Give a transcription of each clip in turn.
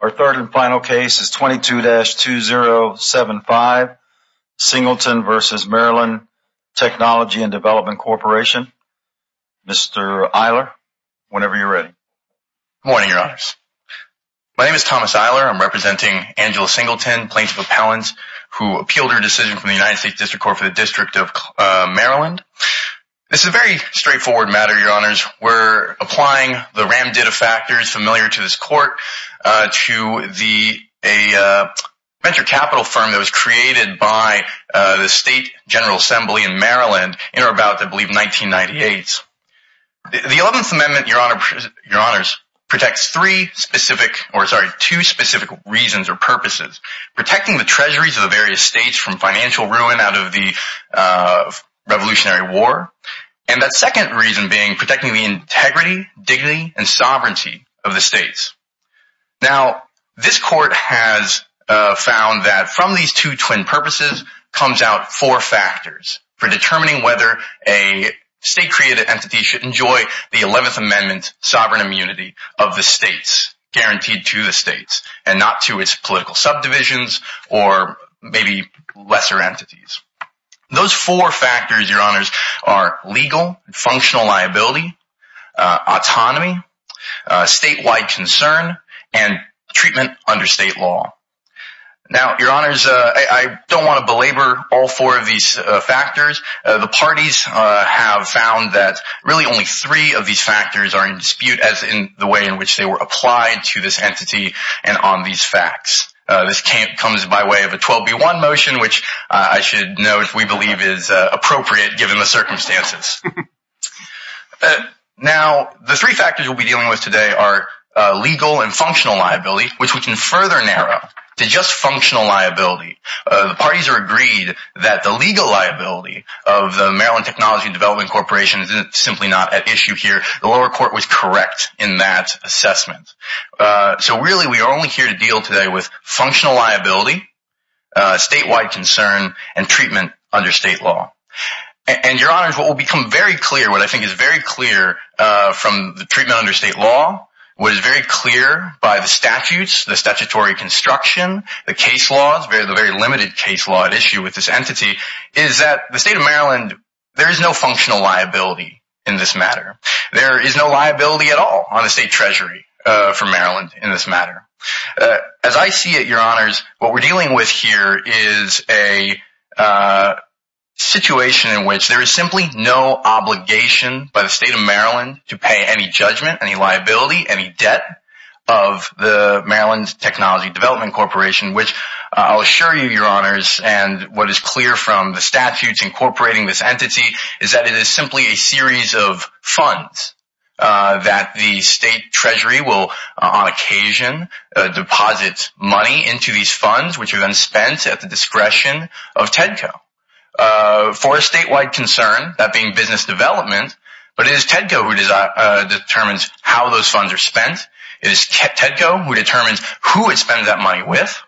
Our third and final case is 22-2075, Singleton v. Maryland Technology and Development Corporation. Mr. Eiler, whenever you're ready. Good morning, Your Honors. My name is Thomas Eiler. I'm representing Angela Singleton, plaintiff appellant, who appealed her decision from the United States District Court for the District of Maryland. This is a very straightforward matter, Your Honors. We're applying the ram-did-a-factors familiar to this court to a venture capital firm that was created by the State General Assembly in Maryland in or about, I believe, 1998. The Eleventh Amendment, Your Honors, protects two specific reasons or purposes. Protecting the treasuries of the various states from financial ruin out of the Revolutionary War and that second reason being protecting the integrity, dignity, and sovereignty of the states. Now, this court has found that from these two twin purposes comes out four factors for determining whether a state-created entity should enjoy the Eleventh Amendment sovereign immunity of the states, guaranteed to the states, and not to its political subdivisions or maybe lesser entities. Those four factors, Your Honors, are legal, functional liability, autonomy, statewide concern, and treatment under state law. Now, Your Honors, I don't want to belabor all four of these factors. The parties have found that really only three of these factors are in dispute as in the way in which they were applied to this entity and on these facts. This comes by way of a 12B1 motion, which I should note we believe is appropriate given the circumstances. Now, the three factors we'll be dealing with today are legal and functional liability, which we can further narrow to just functional liability. The parties are agreed that the legal liability of the Maryland Technology and Development Corporation is simply not at issue here. The lower court was correct in that assessment. So, really, we are only here to deal today with functional liability, statewide concern, and treatment under state law. And, Your Honors, what will become very clear, what I think is very clear from the treatment under state law, what is very clear by the statutes, the statutory construction, the case laws, the very limited case law at issue with this entity, is that the state of Maryland, there is no functional liability in this matter. There is no liability at all on the state treasury for Maryland in this matter. As I see it, Your Honors, what we're dealing with here is a situation in which there is simply no obligation by the state of Maryland to pay any judgment, any liability, any debt of the Maryland Technology and Development Corporation, which I'll assure you, Your Honors, and what is clear from the statutes incorporating this entity is that it is simply a series of funds that the state treasury will, on occasion, deposit money into these funds, which are then spent at the discretion of TEDCO. For a statewide concern, that being business development, but it is TEDCO who determines how those funds are spent. It is TEDCO who determines who it spends that money with.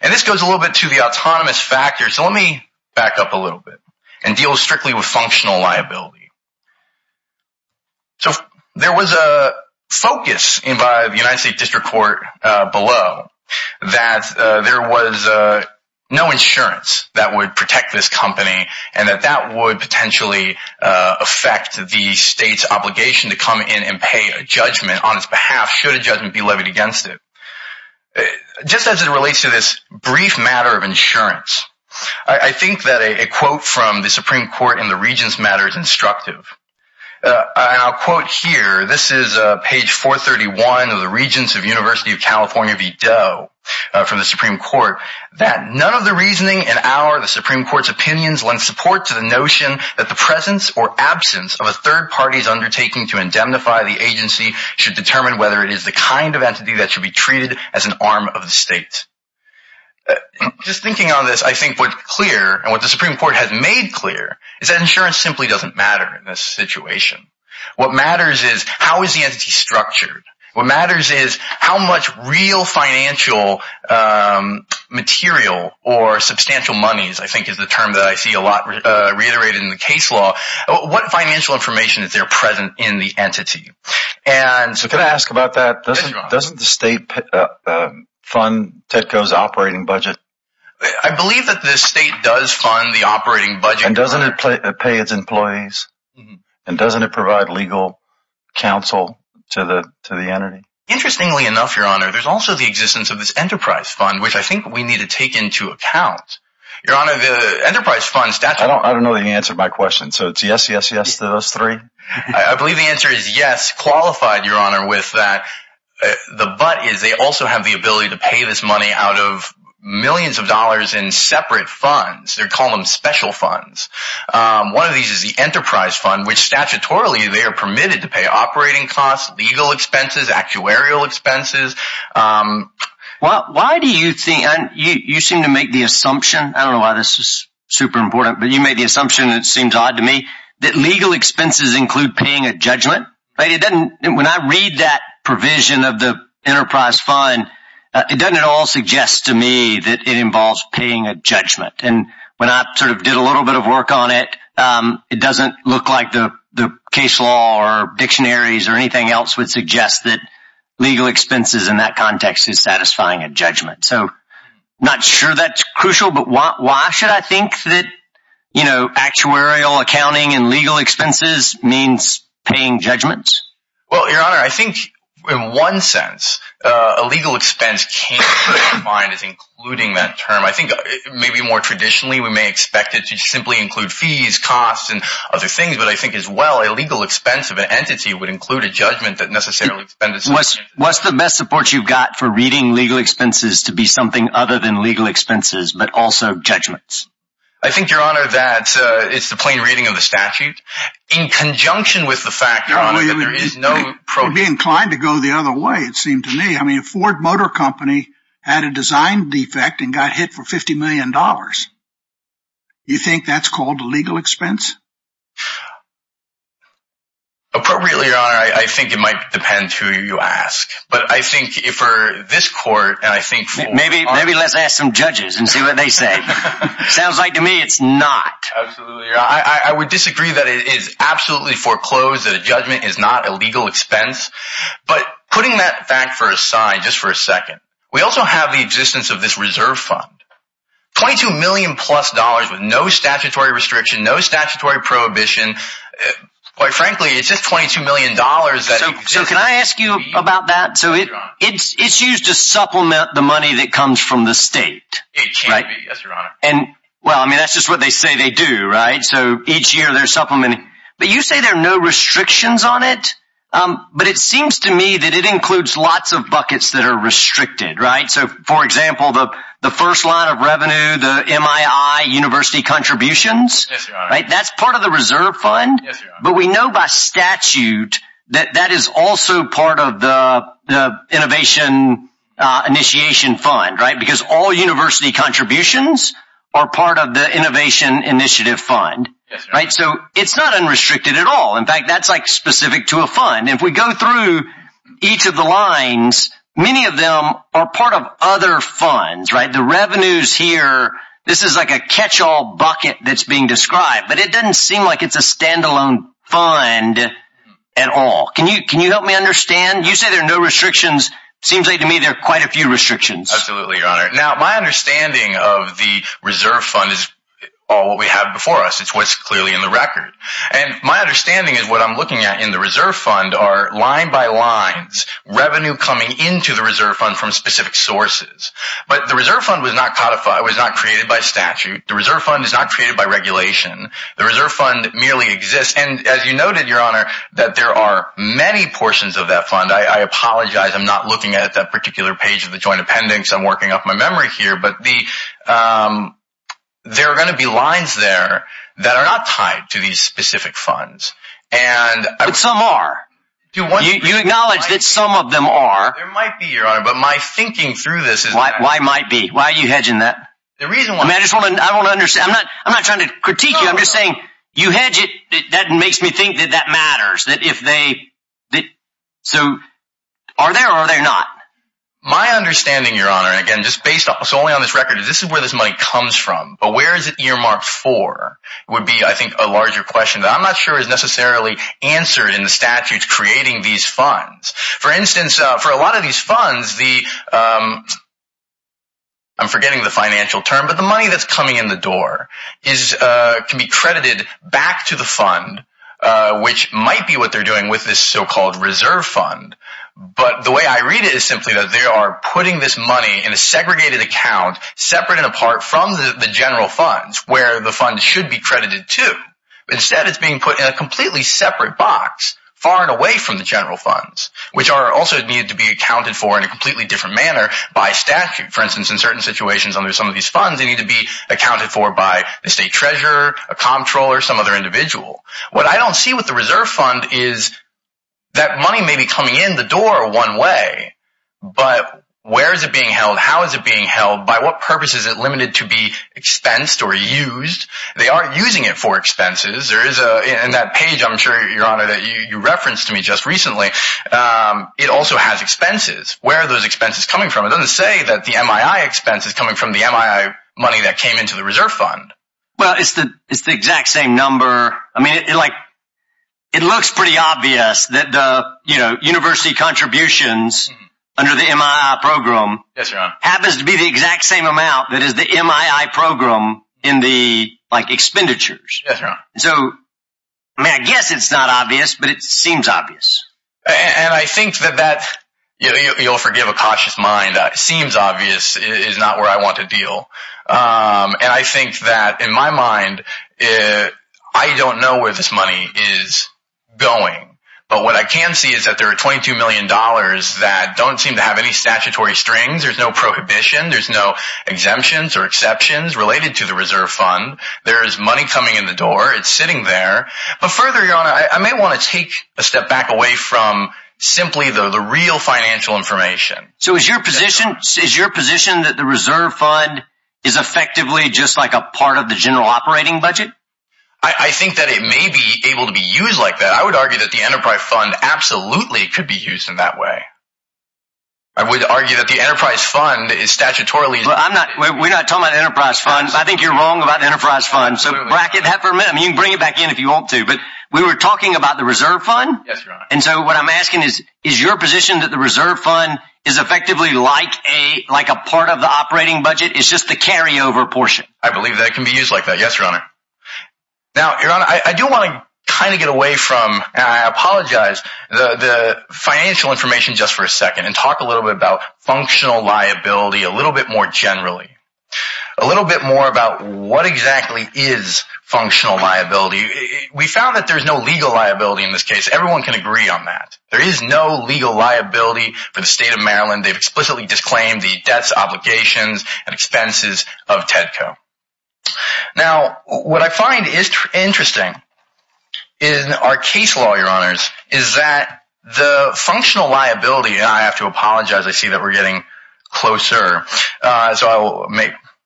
And this goes a little bit to the autonomous factor. So let me back up a little bit and deal strictly with functional liability. So there was a focus by the United States District Court below that there was no insurance that would protect this company and that that would potentially affect the state's obligation to come in and pay a judgment on its behalf should a judgment be levied against it. Just as it relates to this brief matter of insurance, I think that a quote from the Supreme Court in the Regents' matter is instructive. And I'll quote here, this is page 431 of the Regents of University of California v. Doe from the Supreme Court, that none of the reasoning in our, the Supreme Court's, opinions lend support to the notion that the presence or absence of a third party's undertaking to indemnify the agency should determine whether it is the kind of entity that should be treated as an arm of the state. Just thinking on this, I think what's clear and what the Supreme Court has made clear is that insurance simply doesn't matter in this situation. What matters is how is the entity structured? What matters is how much real financial material or substantial monies, I think is the term that I see a lot reiterated in the case law, what financial information is there present in the entity? Can I ask about that? Doesn't the state fund TITCO's operating budget? I believe that the state does fund the operating budget. And doesn't it pay its employees? And doesn't it provide legal counsel to the entity? Interestingly enough, Your Honor, there's also the existence of this enterprise fund, which I think we need to take into account. I don't know the answer to my question, so it's yes, yes, yes to those three? I believe the answer is yes, qualified, Your Honor, with that. The but is they also have the ability to pay this money out of millions of dollars in separate funds. They call them special funds. One of these is the enterprise fund, which statutorily they are permitted to pay operating costs, legal expenses, actuarial expenses. Why do you think you seem to make the assumption? I don't know why this is super important, but you made the assumption. It seems odd to me that legal expenses include paying a judgment. It doesn't. When I read that provision of the enterprise fund, it doesn't at all suggest to me that it involves paying a judgment. And when I sort of did a little bit of work on it, it doesn't look like the case law or dictionaries or anything else would suggest that legal expenses in that context is satisfying a judgment. So not sure that's crucial. But why should I think that, you know, actuarial accounting and legal expenses means paying judgments? Well, Your Honor, I think in one sense, a legal expense came to mind as including that term. I think maybe more traditionally, we may expect it to simply include fees, costs and other things. But I think as well, a legal expense of an entity would include a judgment that necessarily. What's the best support you've got for reading legal expenses to be something other than legal expenses, but also judgments? I think, Your Honor, that it's the plain reading of the statute in conjunction with the fact that there is no. Would be inclined to go the other way, it seemed to me. I mean, a Ford Motor Company had a design defect and got hit for 50 million dollars. You think that's called a legal expense? Appropriately, Your Honor, I think it might depend who you ask. But I think for this court, and I think maybe maybe let's ask some judges and see what they say. Sounds like to me it's not. I would disagree that it is absolutely foreclosed that a judgment is not a legal expense. But putting that fact for a side, just for a second, we also have the existence of this reserve fund. Twenty two million plus dollars with no statutory restriction, no statutory prohibition. Quite frankly, it's just 22 million dollars. So can I ask you about that? So it's it's used to supplement the money that comes from the state. Right. And well, I mean, that's just what they say they do. Right. So each year they're supplementing. But you say there are no restrictions on it. But it seems to me that it includes lots of buckets that are restricted. Right. So, for example, the the first line of revenue, the MII university contributions. Right. That's part of the reserve fund. But we know by statute that that is also part of the innovation initiation fund. Right. Because all university contributions are part of the innovation initiative fund. Right. So it's not unrestricted at all. In fact, that's like specific to a fund. If we go through each of the lines, many of them are part of other funds. Right. The revenues here. This is like a catch all bucket that's being described. But it doesn't seem like it's a standalone fund at all. Can you can you help me understand? You say there are no restrictions. Seems like to me there are quite a few restrictions. Absolutely. Now, my understanding of the reserve fund is all we have before us. It's what's clearly in the record. And my understanding is what I'm looking at in the reserve fund are line by lines, revenue coming into the reserve fund from specific sources. But the reserve fund was not codified, was not created by statute. The reserve fund is not created by regulation. The reserve fund merely exists. And as you noted, Your Honor, that there are many portions of that fund. I apologize. I'm not looking at that particular page of the joint appendix. I'm working up my memory here. But there are going to be lines there that are not tied to these specific funds. And some are. You acknowledge that some of them are. There might be, Your Honor, but my thinking through this is. Why might be? Why are you hedging that? The reason why I just want to I don't understand. I'm not I'm not trying to critique you. I'm just saying you hedge it. That makes me think that that matters, that if they did so, are there or they're not. My understanding, Your Honor, again, just based solely on this record, this is where this money comes from. But where is it earmarked for? Would be, I think, a larger question that I'm not sure is necessarily answered in the statutes creating these funds. For instance, for a lot of these funds, the. I'm forgetting the financial term, but the money that's coming in the door is can be credited back to the fund, which might be what they're doing with this so-called reserve fund. But the way I read it is simply that they are putting this money in a segregated account, separate and apart from the general funds where the fund should be credited to. Instead, it's being put in a completely separate box far and away from the general funds, which are also needed to be accounted for in a completely different manner by statute. For instance, in certain situations under some of these funds, they need to be accounted for by the state treasurer, a comptroller, some other individual. What I don't see with the reserve fund is that money may be coming in the door one way. But where is it being held? How is it being held? By what purpose is it limited to be expensed or used? They aren't using it for expenses. In that page, I'm sure, Your Honor, that you referenced to me just recently, it also has expenses. Where are those expenses coming from? It doesn't say that the MII expense is coming from the MII money that came into the reserve fund. Well, it's the exact same number. I mean, it looks pretty obvious that the university contributions under the MII program happens to be the exact same amount that is the MII program in the expenditures. Yes, Your Honor. So, I mean, I guess it's not obvious, but it seems obvious. And I think that that, you'll forgive a cautious mind, seems obvious is not where I want to deal. And I think that in my mind, I don't know where this money is going. But what I can see is that there are $22 million that don't seem to have any statutory strings. There's no prohibition. There's no exemptions or exceptions related to the reserve fund. There is money coming in the door. It's sitting there. But further, Your Honor, I may want to take a step back away from simply the real financial information. So, is your position that the reserve fund is effectively just like a part of the general operating budget? I think that it may be able to be used like that. I would argue that the enterprise fund absolutely could be used in that way. I would argue that the enterprise fund is statutorily… We're not talking about the enterprise fund. I think you're wrong about the enterprise fund. So, bracket that for a minute. I mean, you can bring it back in if you want to. But we were talking about the reserve fund. Yes, Your Honor. And so what I'm asking is, is your position that the reserve fund is effectively like a part of the operating budget? It's just the carryover portion. I believe that it can be used like that. Yes, Your Honor. Now, Your Honor, I do want to kind of get away from, and I apologize, the financial information just for a second and talk a little bit about functional liability a little bit more generally, a little bit more about what exactly is functional liability. We found that there's no legal liability in this case. Everyone can agree on that. There is no legal liability for the state of Maryland. They've explicitly disclaimed the debts, obligations, and expenses of TEDCO. Now, what I find is interesting in our case law, Your Honors, is that the functional liability, and I have to apologize. I see that we're getting closer, so I will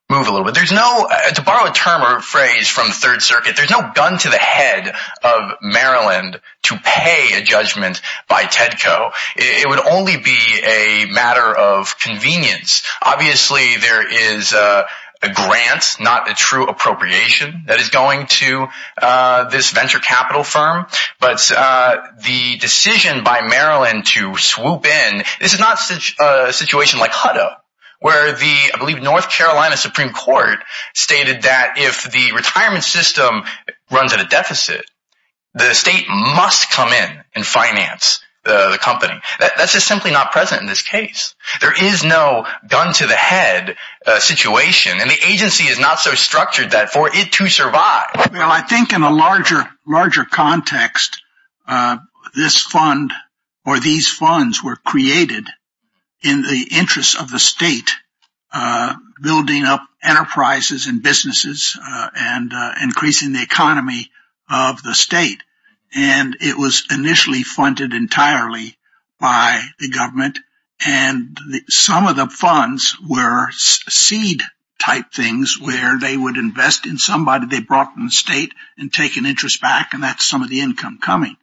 move a little bit. To borrow a term or phrase from the Third Circuit, there's no gun to the head of Maryland to pay a judgment by TEDCO. It would only be a matter of convenience. Obviously, there is a grant, not a true appropriation, that is going to this venture capital firm. But the decision by Maryland to swoop in, this is not a situation like Hutto, where the, I believe, North Carolina Supreme Court stated that if the retirement system runs at a deficit, the state must come in and finance the company. That's just simply not present in this case. There is no gun to the head situation, and the agency is not so structured that for it to survive. Well, I think in a larger context, this fund or these funds were created in the interest of the state, building up enterprises and businesses and increasing the economy of the state. And it was initially funded entirely by the government, and some of the funds were seed-type things where they would invest in somebody they brought from the state and take an interest back, and that's some of the income coming.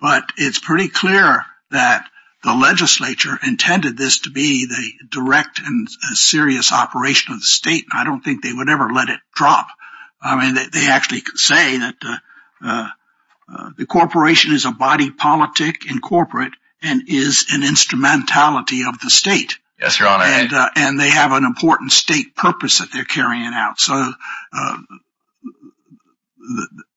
But it's pretty clear that the legislature intended this to be the direct and serious operation of the state, and I don't think they would ever let it drop. I mean, they actually say that the corporation is a body politic and corporate and is an instrumentality of the state. Yes, Your Honor. And they have an important state purpose that they're carrying out. So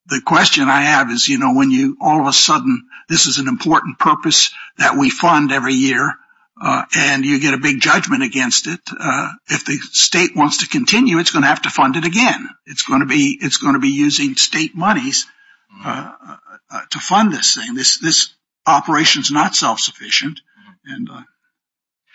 the question I have is, you know, when all of a sudden this is an important purpose that we fund every year and you get a big judgment against it, if the state wants to continue, it's going to have to fund it again. It's going to be using state monies to fund this thing. This operation is not self-sufficient.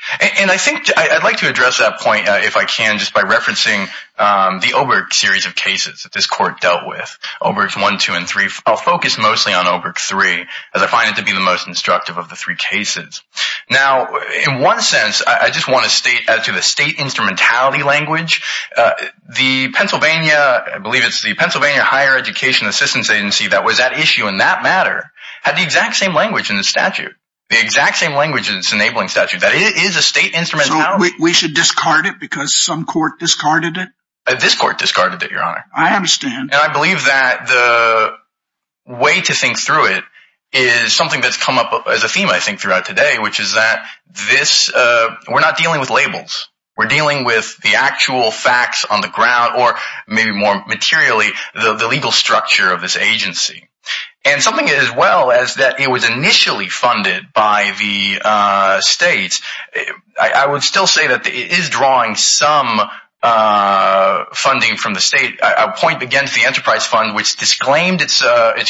And I think I'd like to address that point, if I can, just by referencing the Oberg series of cases that this court dealt with, Obergs 1, 2, and 3. I'll focus mostly on Oberg 3, as I find it to be the most instructive of the three cases. Now, in one sense, I just want to state as to the state instrumentality language, the Pennsylvania, I believe it's the Pennsylvania Higher Education Assistance Agency, that was at issue in that matter, had the exact same language in the statute, the exact same language in its enabling statute, that it is a state instrument. So we should discard it because some court discarded it? This court discarded it, Your Honor. I understand. And I believe that the way to think through it is something that's come up as a theme, I think, throughout today, which is that we're not dealing with labels. We're dealing with the actual facts on the ground, or maybe more materially, the legal structure of this agency. And something as well as that it was initially funded by the states, I would still say that it is drawing some funding from the state. I would point again to the Enterprise Fund, which disclaimed its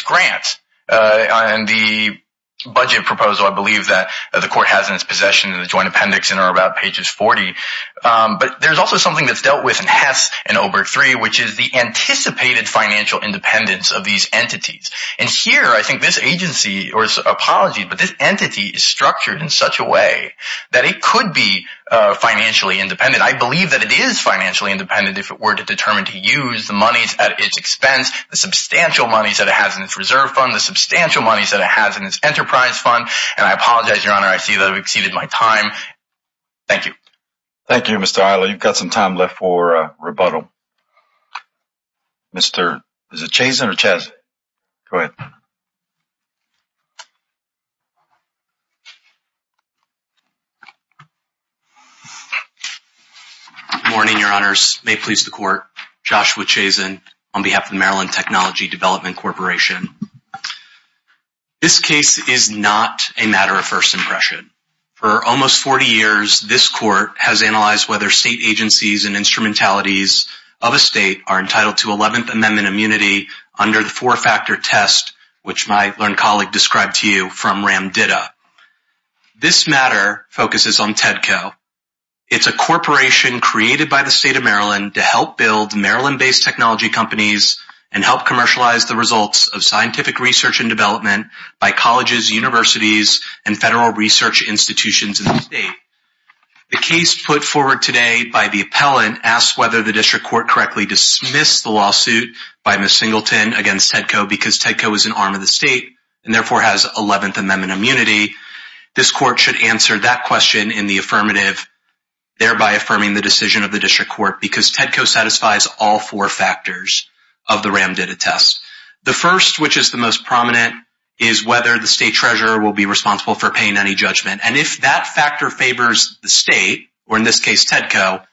grants on the budget proposal, I believe, that the court has in its possession in the joint appendix, in or about pages 40. But there's also something that's dealt with in Hess and Oberg 3, which is the anticipated financial independence of these entities. And here, I think this agency, or apologies, but this entity is structured in such a way that it could be financially independent. I believe that it is financially independent if it were to determine to use the monies at its expense, the substantial monies that it has in its reserve fund, the substantial monies that it has in its Enterprise Fund. And I apologize, Your Honor, I see that I've exceeded my time. Thank you. Thank you, Mr. Isla. You've got some time left for rebuttal. Mr. Chazen or Chazen? Go ahead. Good morning, Your Honors. May it please the court, Joshua Chazen on behalf of the Maryland Technology Development Corporation. This case is not a matter of first impression. For almost 40 years, this court has analyzed whether state agencies and instrumentalities of a state are entitled to 11th Amendment immunity under the four-factor test, which my learned colleague described to you from RAMDIDA. This matter focuses on TEDCO. It's a corporation created by the state of Maryland to help build Maryland-based technology companies and help commercialize the results of scientific research and development by colleges, universities, and federal research institutions in the state. The case put forward today by the appellant asks whether the district court correctly dismissed the lawsuit by Ms. Singleton against TEDCO because TEDCO is an arm of the state and therefore has 11th Amendment immunity. This court should answer that question in the affirmative, thereby affirming the decision of the district court because TEDCO satisfies all four factors of the RAMDIDA test. The first, which is the most prominent, is whether the state treasurer will be responsible for paying any judgment. And if that factor favors the state, or in this case TEDCO,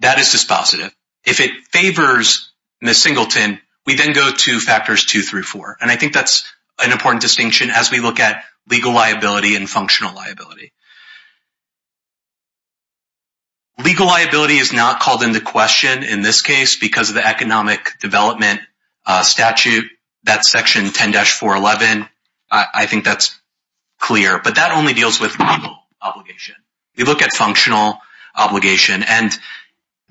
that is dispositive. If it favors Ms. Singleton, we then go to factors two through four. And I think that's an important distinction as we look at legal liability and functional liability. Legal liability is not called into question in this case because of the economic development statute. That's section 10-411. I think that's clear. But that only deals with legal obligation. We look at functional obligation, and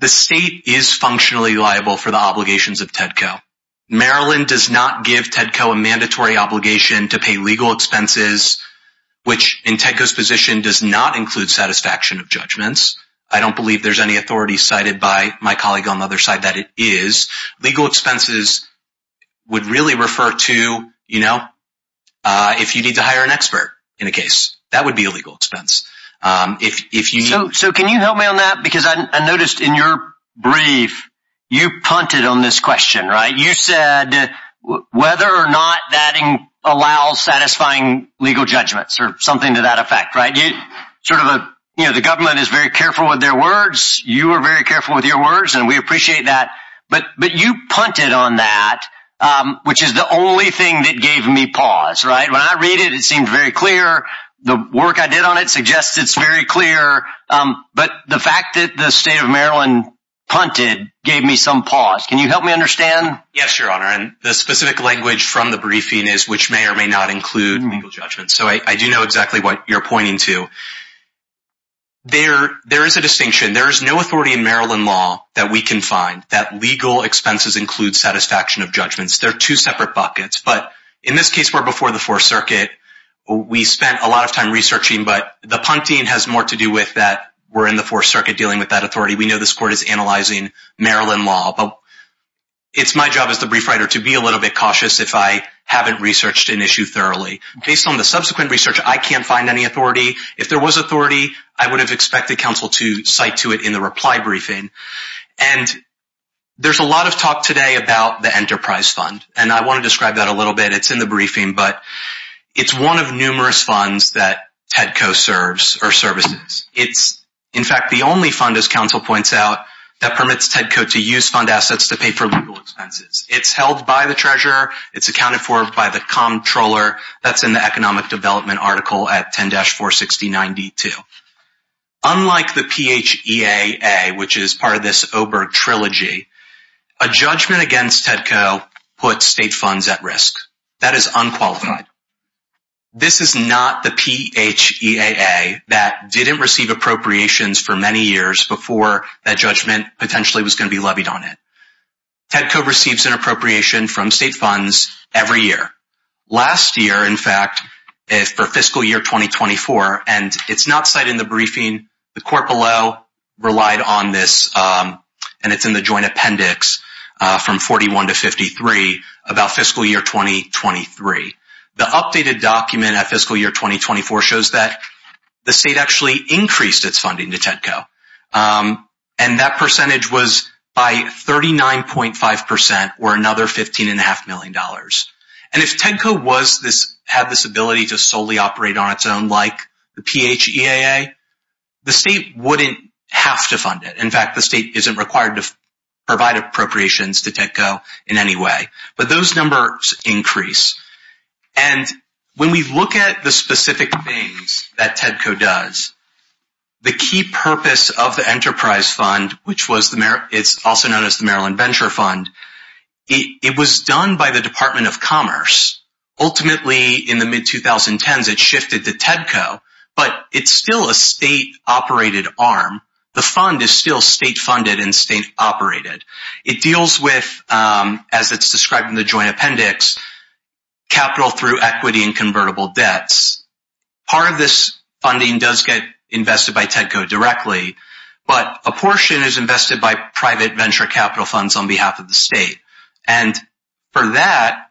the state is functionally liable for the obligations of TEDCO. Maryland does not give TEDCO a mandatory obligation to pay legal expenses, which in TEDCO's position does not include satisfaction of judgments. I don't believe there's any authority cited by my colleague on the other side that it is. Legal expenses would really refer to, you know, if you need to hire an expert in a case. That would be a legal expense. So can you help me on that? Because I noticed in your brief, you punted on this question, right? You said whether or not that allows satisfying legal judgments or something to that effect, right? You know, the government is very careful with their words. You are very careful with your words, and we appreciate that. But you punted on that, which is the only thing that gave me pause, right? When I read it, it seemed very clear. The work I did on it suggests it's very clear. But the fact that the state of Maryland punted gave me some pause. Can you help me understand? Yes, Your Honor, and the specific language from the briefing is which may or may not include legal judgments. So I do know exactly what you're pointing to. There is a distinction. There is no authority in Maryland law that we can find that legal expenses include satisfaction of judgments. They're two separate buckets. But in this case, we're before the Fourth Circuit. We spent a lot of time researching, but the punting has more to do with that we're in the Fourth Circuit dealing with that authority. We know this court is analyzing Maryland law. But it's my job as the brief writer to be a little bit cautious if I haven't researched an issue thoroughly. Based on the subsequent research, I can't find any authority. If there was authority, I would have expected counsel to cite to it in the reply briefing. And there's a lot of talk today about the Enterprise Fund, and I want to describe that a little bit. It's in the briefing, but it's one of numerous funds that TEDCO serves or services. It's, in fact, the only fund, as counsel points out, that permits TEDCO to use fund assets to pay for legal expenses. It's held by the treasurer. It's accounted for by the comptroller. That's in the economic development article at 10-46092. Unlike the PHEAA, which is part of this Oberg trilogy, a judgment against TEDCO puts state funds at risk. That is unqualified. This is not the PHEAA that didn't receive appropriations for many years before that judgment potentially was going to be levied on it. TEDCO receives an appropriation from state funds every year. Last year, in fact, for fiscal year 2024, and it's not cited in the briefing. The court below relied on this, and it's in the joint appendix from 41 to 53 about fiscal year 2023. The updated document at fiscal year 2024 shows that the state actually increased its funding to TEDCO. And that percentage was by 39.5% or another $15.5 million. And if TEDCO had this ability to solely operate on its own like the PHEAA, the state wouldn't have to fund it. In fact, the state isn't required to provide appropriations to TEDCO in any way. But those numbers increase. And when we look at the specific things that TEDCO does, the key purpose of the enterprise fund, which is also known as the Maryland Venture Fund, it was done by the Department of Commerce. Ultimately, in the mid-2010s, it shifted to TEDCO, but it's still a state-operated arm. The fund is still state-funded and state-operated. It deals with, as it's described in the joint appendix, capital through equity and convertible debts. Part of this funding does get invested by TEDCO directly, but a portion is invested by private venture capital funds on behalf of the state. And for that,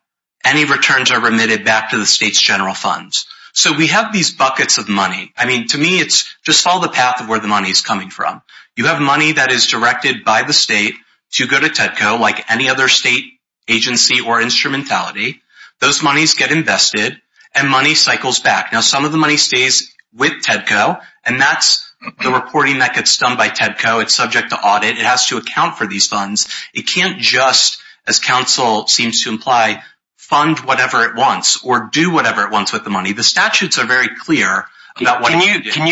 any returns are remitted back to the state's general funds. So we have these buckets of money. I mean, to me, it's just follow the path of where the money is coming from. You have money that is directed by the state to go to TEDCO like any other state agency or instrumentality. Those monies get invested, and money cycles back. Now, some of the money stays with TEDCO, and that's the reporting that gets done by TEDCO. It's subject to audit. It has to account for these funds. It can't just, as counsel seems to imply, fund whatever it wants or do whatever it wants with the money. The statutes are very clear about what it did. Can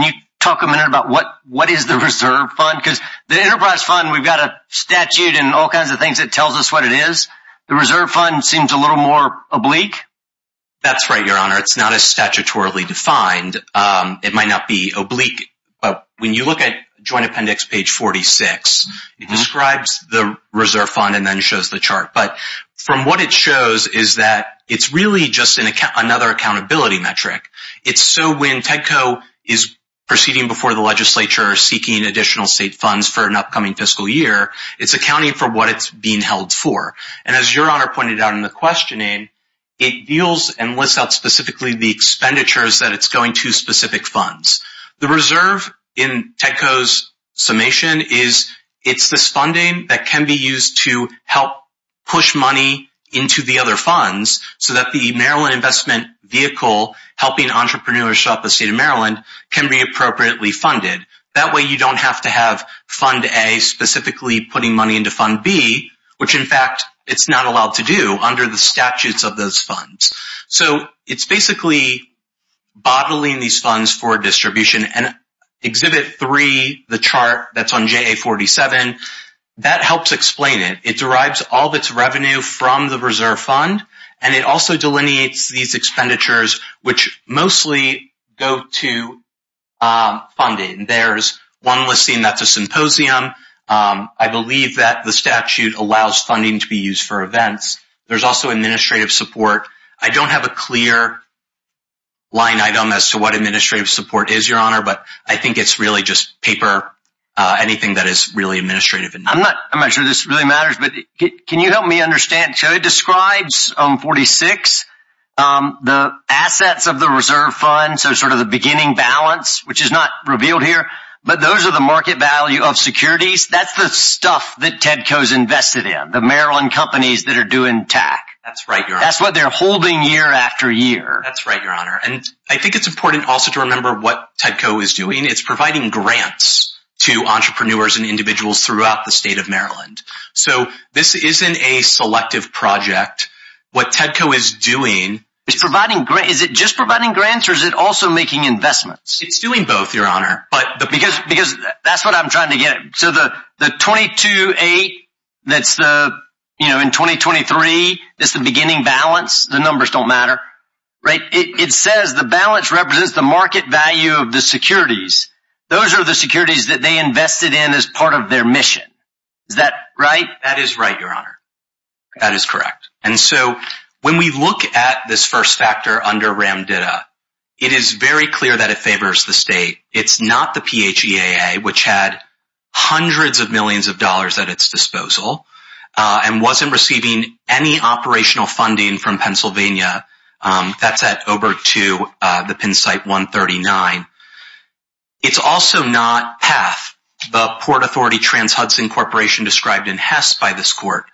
you talk a minute about what is the reserve fund? Because the enterprise fund, we've got a statute and all kinds of things that tells us what it is. The reserve fund seems a little more oblique. That's right, Your Honor. It's not as statutorily defined. It might not be oblique, but when you look at Joint Appendix page 46, it describes the reserve fund and then shows the chart. But from what it shows is that it's really just another accountability metric. It's so when TEDCO is proceeding before the legislature or seeking additional state funds for an upcoming fiscal year, it's accounting for what it's being held for. And as Your Honor pointed out in the questioning, it deals and lists out specifically the expenditures that it's going to specific funds. The reserve in TEDCO's summation is it's this funding that can be used to help push money into the other funds so that the Maryland Investment Vehicle helping entrepreneurs show up in the state of Maryland can be appropriately funded. That way you don't have to have Fund A specifically putting money into Fund B, which, in fact, it's not allowed to do under the statutes of those funds. So it's basically bottling these funds for distribution. And Exhibit 3, the chart that's on JA-47, that helps explain it. It derives all of its revenue from the reserve fund, and it also delineates these expenditures, which mostly go to funding. There's one listing that's a symposium. I believe that the statute allows funding to be used for events. There's also administrative support. I don't have a clear line item as to what administrative support is, Your Honor, but I think it's really just paper, anything that is really administrative. I'm not sure this really matters, but can you help me understand? So it describes 46, the assets of the reserve fund, so sort of the beginning balance, which is not revealed here. But those are the market value of securities. That's the stuff that Tedco's invested in, the Maryland companies that are doing TAC. That's right, Your Honor. That's what they're holding year after year. That's right, Your Honor. And I think it's important also to remember what Tedco is doing. It's providing grants to entrepreneurs and individuals throughout the state of Maryland. So this isn't a selective project. What Tedco is doing— Is it just providing grants, or is it also making investments? It's doing both, Your Honor. Because that's what I'm trying to get at. So the 22.8, that's the—you know, in 2023, that's the beginning balance. The numbers don't matter, right? It says the balance represents the market value of the securities. Those are the securities that they invested in as part of their mission. Is that right? That is right, Your Honor. That is correct. And so when we look at this first factor under RAMDIDA, it is very clear that it favors the state. It's not the PHEAA, which had hundreds of millions of dollars at its disposal and wasn't receiving any operational funding from Pennsylvania. That's at Oberto, the pin site 139. It's also not PATH, the Port Authority Trans-Hudson Corporation described in Hess by this court.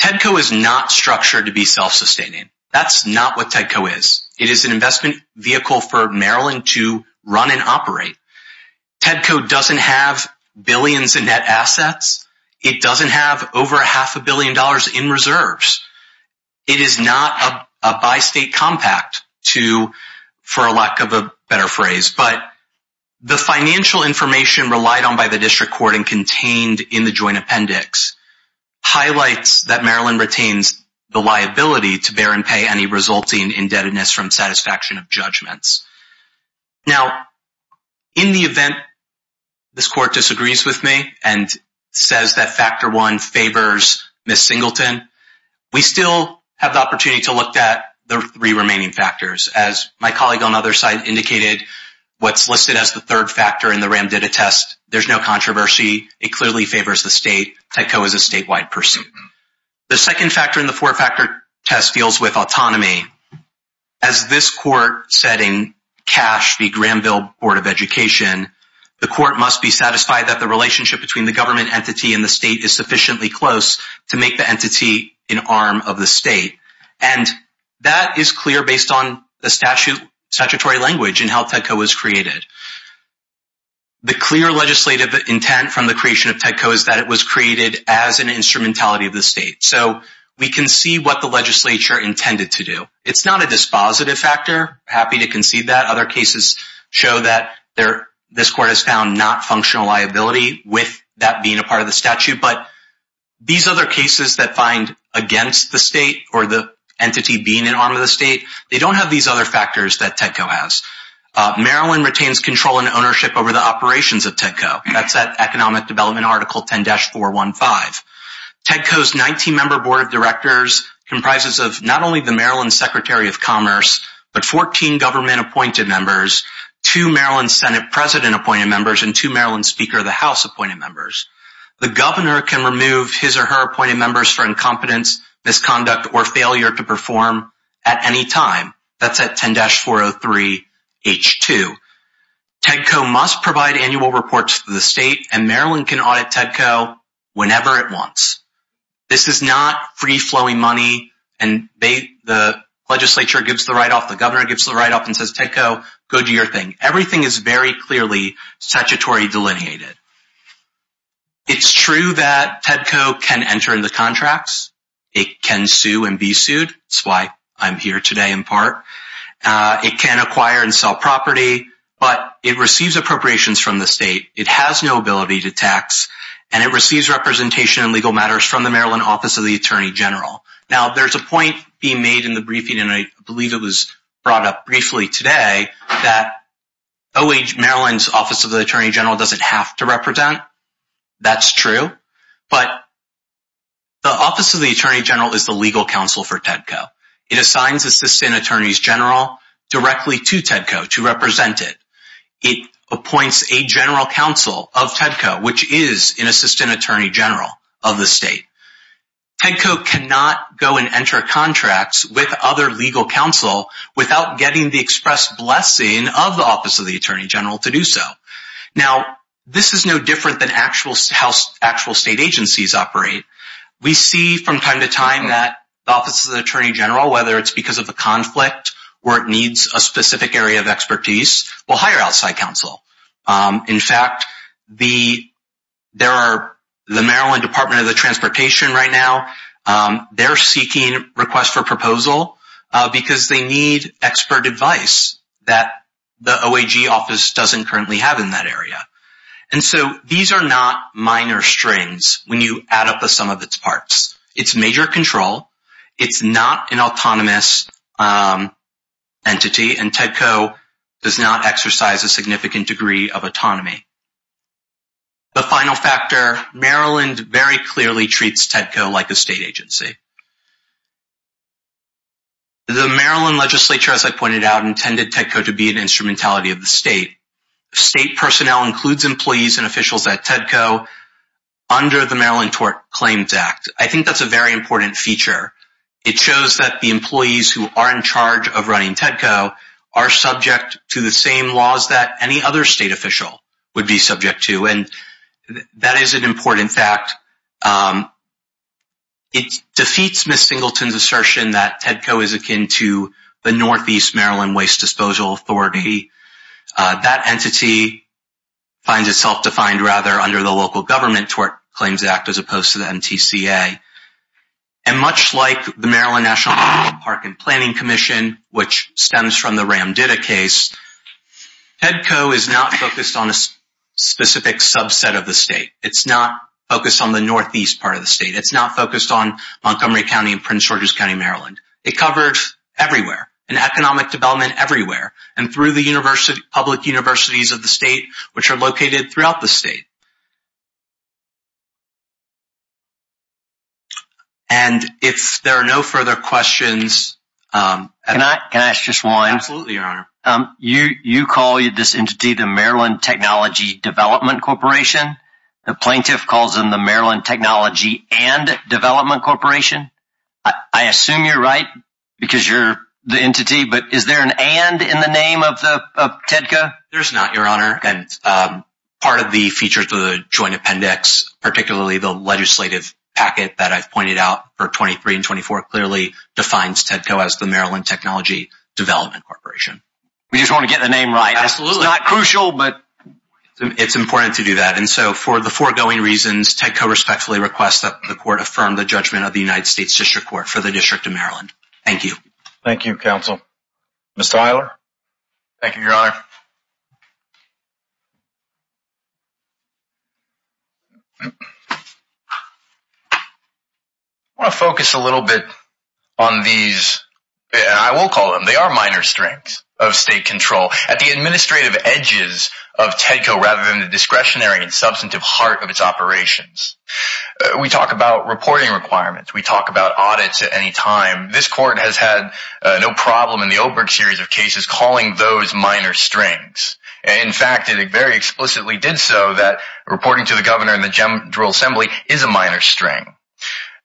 TEDCO is not structured to be self-sustaining. That's not what TEDCO is. It is an investment vehicle for Maryland to run and operate. TEDCO doesn't have billions in net assets. It doesn't have over half a billion dollars in reserves. It is not a bi-state compact to—for lack of a better phrase. But the financial information relied on by the district court and contained in the joint appendix highlights that Maryland retains the liability to bear and pay any resulting indebtedness from satisfaction of judgments. Now, in the event this court disagrees with me and says that factor one favors Ms. Singleton, we still have the opportunity to look at the three remaining factors. As my colleague on the other side indicated, what's listed as the third factor in the RAMDIDA test, there's no controversy. It clearly favors the state. TEDCO is a statewide pursuit. The second factor in the four-factor test deals with autonomy. As this court said in Cash v. Granville Board of Education, the court must be satisfied that the relationship between the government entity and the state is sufficiently close to make the entity an arm of the state. The clear legislative intent from the creation of TEDCO is that it was created as an instrumentality of the state. So we can see what the legislature intended to do. It's not a dispositive factor. Happy to concede that. Other cases show that this court has found not functional liability with that being a part of the statute. But these other cases that find against the state or the entity being an arm of the state, they don't have these other factors that TEDCO has. Maryland retains control and ownership over the operations of TEDCO. That's at Economic Development Article 10-415. TEDCO's 19-member board of directors comprises of not only the Maryland Secretary of Commerce, but 14 government-appointed members, two Maryland Senate President-appointed members, and two Maryland Speaker of the House-appointed members. The governor can remove his or her appointed members for incompetence, misconduct, or failure to perform at any time. That's at 10-403-H2. TEDCO must provide annual reports to the state, and Maryland can audit TEDCO whenever it wants. This is not free-flowing money, and the legislature gives the write-off, the governor gives the write-off, and says, TEDCO, go do your thing. Everything is very clearly statutory delineated. It's true that TEDCO can enter into contracts. It can sue and be sued. That's why I'm here today in part. It can acquire and sell property, but it receives appropriations from the state. It has no ability to tax, and it receives representation in legal matters from the Maryland Office of the Attorney General. Now, there's a point being made in the briefing, and I believe it was brought up briefly today, that OAH, Maryland's Office of the Attorney General, doesn't have to represent. That's true, but the Office of the Attorney General is the legal counsel for TEDCO. It assigns assistant attorneys general directly to TEDCO to represent it. It appoints a general counsel of TEDCO, which is an assistant attorney general of the state. TEDCO cannot go and enter contracts with other legal counsel without getting the express blessing of the Office of the Attorney General to do so. Now, this is no different than how actual state agencies operate. We see from time to time that the Office of the Attorney General, whether it's because of a conflict or it needs a specific area of expertise, will hire outside counsel. In fact, the Maryland Department of the Transportation right now, they're seeking requests for proposal because they need expert advice that the OAG office doesn't currently have in that area. And so these are not minor strains when you add up the sum of its parts. It's major control. It's not an autonomous entity. And TEDCO does not exercise a significant degree of autonomy. The final factor, Maryland very clearly treats TEDCO like a state agency. The Maryland legislature, as I pointed out, intended TEDCO to be an instrumentality of the state. State personnel includes employees and officials at TEDCO under the Maryland Tort Claims Act. I think that's a very important feature. It shows that the employees who are in charge of running TEDCO are subject to the same laws that any other state official would be subject to. And that is an important fact. It defeats Ms. Singleton's assertion that TEDCO is akin to the Northeast Maryland Waste Disposal Authority. That entity finds itself defined rather under the local government Tort Claims Act as opposed to the MTCA. And much like the Maryland National Park and Planning Commission, which stems from the Ramditta case, TEDCO is not focused on a specific subset of the state. It's not focused on the Northeast part of the state. It's not focused on Montgomery County and Prince George's County, Maryland. It covers everywhere, in economic development everywhere, and through the public universities of the state, which are located throughout the state. And if there are no further questions... Can I ask just one? Absolutely, Your Honor. You call this entity the Maryland Technology Development Corporation. The plaintiff calls them the Maryland Technology and Development Corporation. I assume you're right, because you're the entity. But is there an and in the name of TEDCO? There's not, Your Honor. Part of the features of the Joint Appendix, particularly the legislative packet that I've pointed out for 23 and 24, clearly defines TEDCO as the Maryland Technology Development Corporation. We just want to get the name right. Absolutely. It's not crucial, but... It's important to do that. And so, for the foregoing reasons, TEDCO respectfully requests that the Court affirm the judgment of the United States District Court for the District of Maryland. Thank you. Thank you, Counsel. Mr. Euler? Thank you, Your Honor. I want to focus a little bit on these... I will call them. They are minor strengths of state control. At the administrative edges of TEDCO, rather than the discretionary and substantive heart of its operations. We talk about reporting requirements. We talk about audits at any time. This Court has had no problem in the Oberg series of cases calling those minor strengths. In fact, it very explicitly did so that reporting to the Governor and the General Assembly is a minor strength.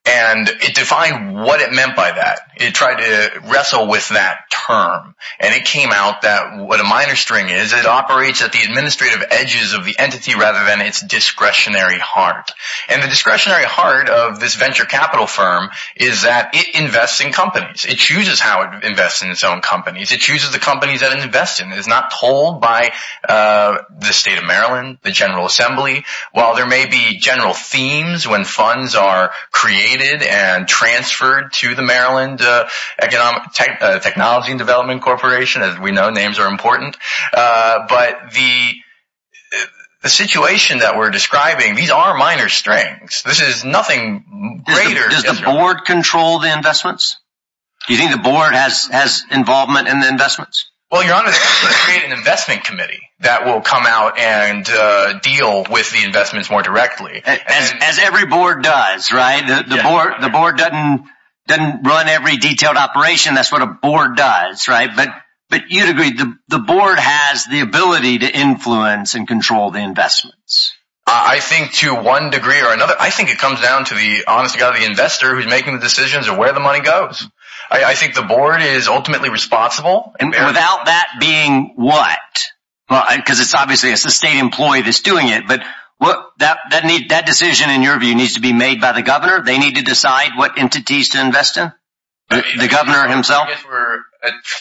And it defined what it meant by that. It tried to wrestle with that term. And it came out that what a minor strength is, it operates at the administrative edges of the entity rather than its discretionary heart. And the discretionary heart of this venture capital firm is that it invests in companies. It chooses how it invests in its own companies. It chooses the companies that it invests in. It is not told by the State of Maryland, the General Assembly. While there may be general themes when funds are created and transferred to the Maryland Technology and Development Corporation. As we know, names are important. But the situation that we are describing, these are minor strengths. This is nothing greater. Does the Board control the investments? Do you think the Board has involvement in the investments? Well, Your Honor, they create an investment committee that will come out and deal with the investments more directly. As every Board does, right? The Board doesn't run every detailed operation. That's what a Board does, right? But you'd agree the Board has the ability to influence and control the investments. I think to one degree or another, I think it comes down to the honesty of the investor who is making the decisions of where the money goes. I think the Board is ultimately responsible. Without that being what? Because it's obviously a state employee that's doing it. But that decision, in your view, needs to be made by the Governor? They need to decide what entities to invest in? The Governor himself? I guess we're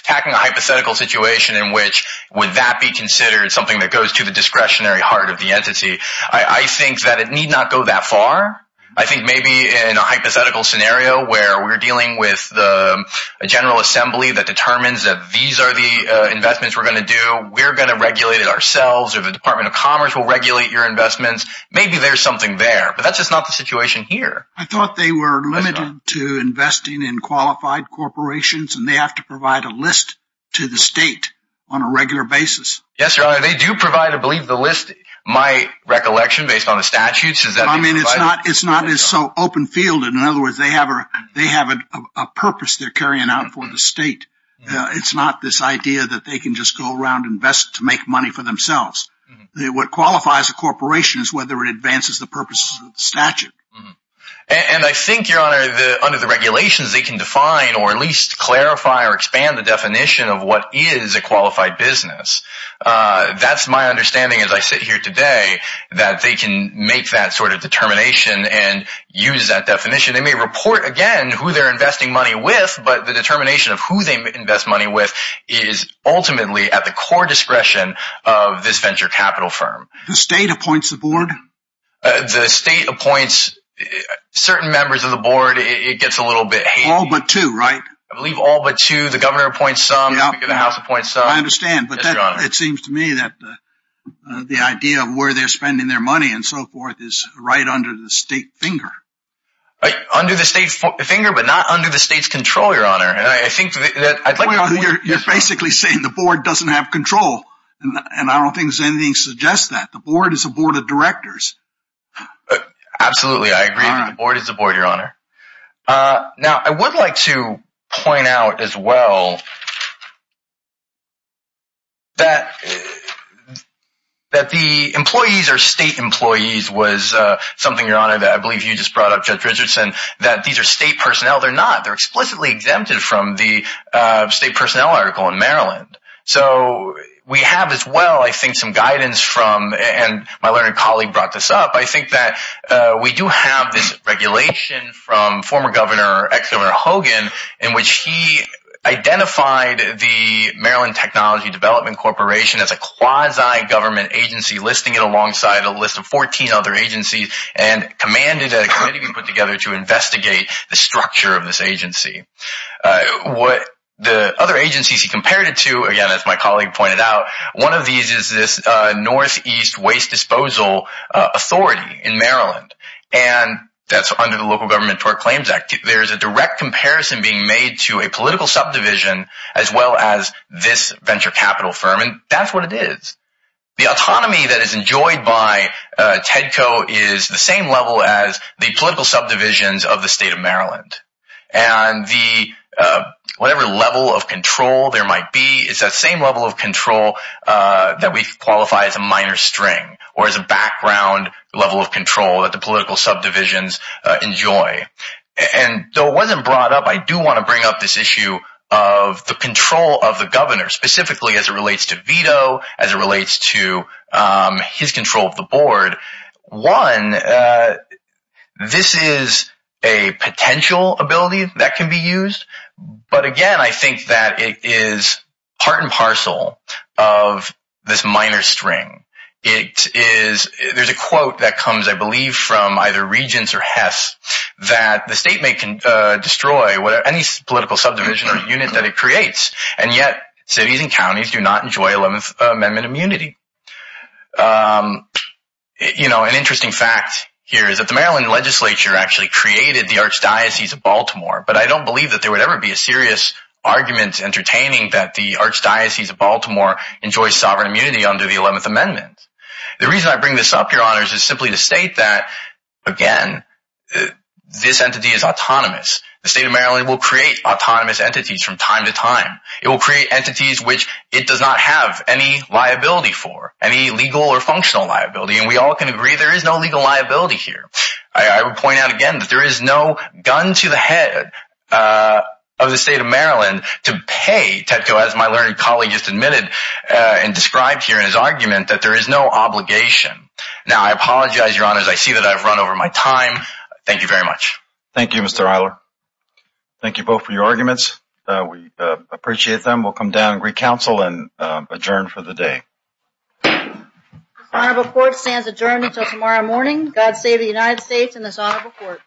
attacking a hypothetical situation in which would that be considered something that goes to the discretionary heart of the entity? I think that it need not go that far. I think maybe in a hypothetical scenario where we're dealing with a General Assembly that determines that these are the investments we're going to do, we're going to regulate it ourselves, or the Department of Commerce will regulate your investments. Maybe there's something there, but that's just not the situation here. I thought they were limited to investing in qualified corporations, and they have to provide a list to the state on a regular basis. Yes, Your Honor, they do provide, I believe, the list. My recollection, based on the statutes, is that they provide it? It's not as so open field. In other words, they have a purpose they're carrying out for the state. It's not this idea that they can just go around and invest to make money for themselves. What qualifies a corporation is whether it advances the purposes of the statute. And I think, Your Honor, under the regulations, they can define or at least clarify or expand the definition of what is a qualified business. That's my understanding as I sit here today, that they can make that sort of determination and use that definition. They may report, again, who they're investing money with, but the determination of who they invest money with is ultimately at the core discretion of this venture capital firm. The state appoints the board? The state appoints certain members of the board. It gets a little bit hazy. All but two, right? I believe all but two. The governor appoints some. The House appoints some. I understand, but it seems to me that the idea of where they're spending their money and so forth is right under the state finger. Under the state finger, but not under the state's control, Your Honor. You're basically saying the board doesn't have control, and I don't think anything suggests that. The board is a board of directors. Absolutely. I agree that the board is a board, Your Honor. Now, I would like to point out as well that the employees or state employees was something, Your Honor, that I believe you just brought up, Judge Richardson, that these are state personnel. They're not. They're explicitly exempted from the state personnel article in Maryland. We have as well, I think, some guidance from, and my learned colleague brought this up. I think that we do have this regulation from former Governor, ex-Governor Hogan, in which he identified the Maryland Technology Development Corporation as a quasi-government agency, listing it alongside a list of 14 other agencies, and commanded a committee be put together to investigate the structure of this agency. The other agencies he compared it to, again, as my colleague pointed out, one of these is this Northeast Waste Disposal Authority in Maryland, and that's under the Local Government Tort Claims Act. There's a direct comparison being made to a political subdivision as well as this venture capital firm, and that's what it is. The autonomy that is enjoyed by TEDCO is the same level as the political subdivisions of the state of Maryland. Whatever level of control there might be, it's that same level of control that we qualify as a minor string or as a background level of control that the political subdivisions enjoy. Though it wasn't brought up, I do want to bring up this issue of the control of the governor, specifically as it relates to veto, as it relates to his control of the board. One, this is a potential ability that can be used, but again, I think that it is part and parcel of this minor string. There's a quote that comes, I believe, from either Regents or Hess that the state may destroy any political subdivision or unit that it creates, and yet cities and counties do not enjoy 11th Amendment immunity. An interesting fact here is that the Maryland legislature actually created the Archdiocese of Baltimore, but I don't believe that there would ever be a serious argument entertaining that the Archdiocese of Baltimore enjoys sovereign immunity under the 11th Amendment. The reason I bring this up, Your Honors, is simply to state that, again, this entity is autonomous. The state of Maryland will create autonomous entities from time to time. It will create entities which it does not have any liability for, any legal or functional liability, and we all can agree there is no legal liability here. I would point out again that there is no gun to the head of the state of Maryland to pay Tedco, as my learned colleague just admitted and described here in his argument, that there is no obligation. Now, I apologize, Your Honors. I see that I've run over my time. Thank you very much. Thank you, Mr. Eiler. Thank you both for your arguments. We appreciate them. We'll come down and recouncil and adjourn for the day. This honorable court stands adjourned until tomorrow morning. God save the United States and this honorable court.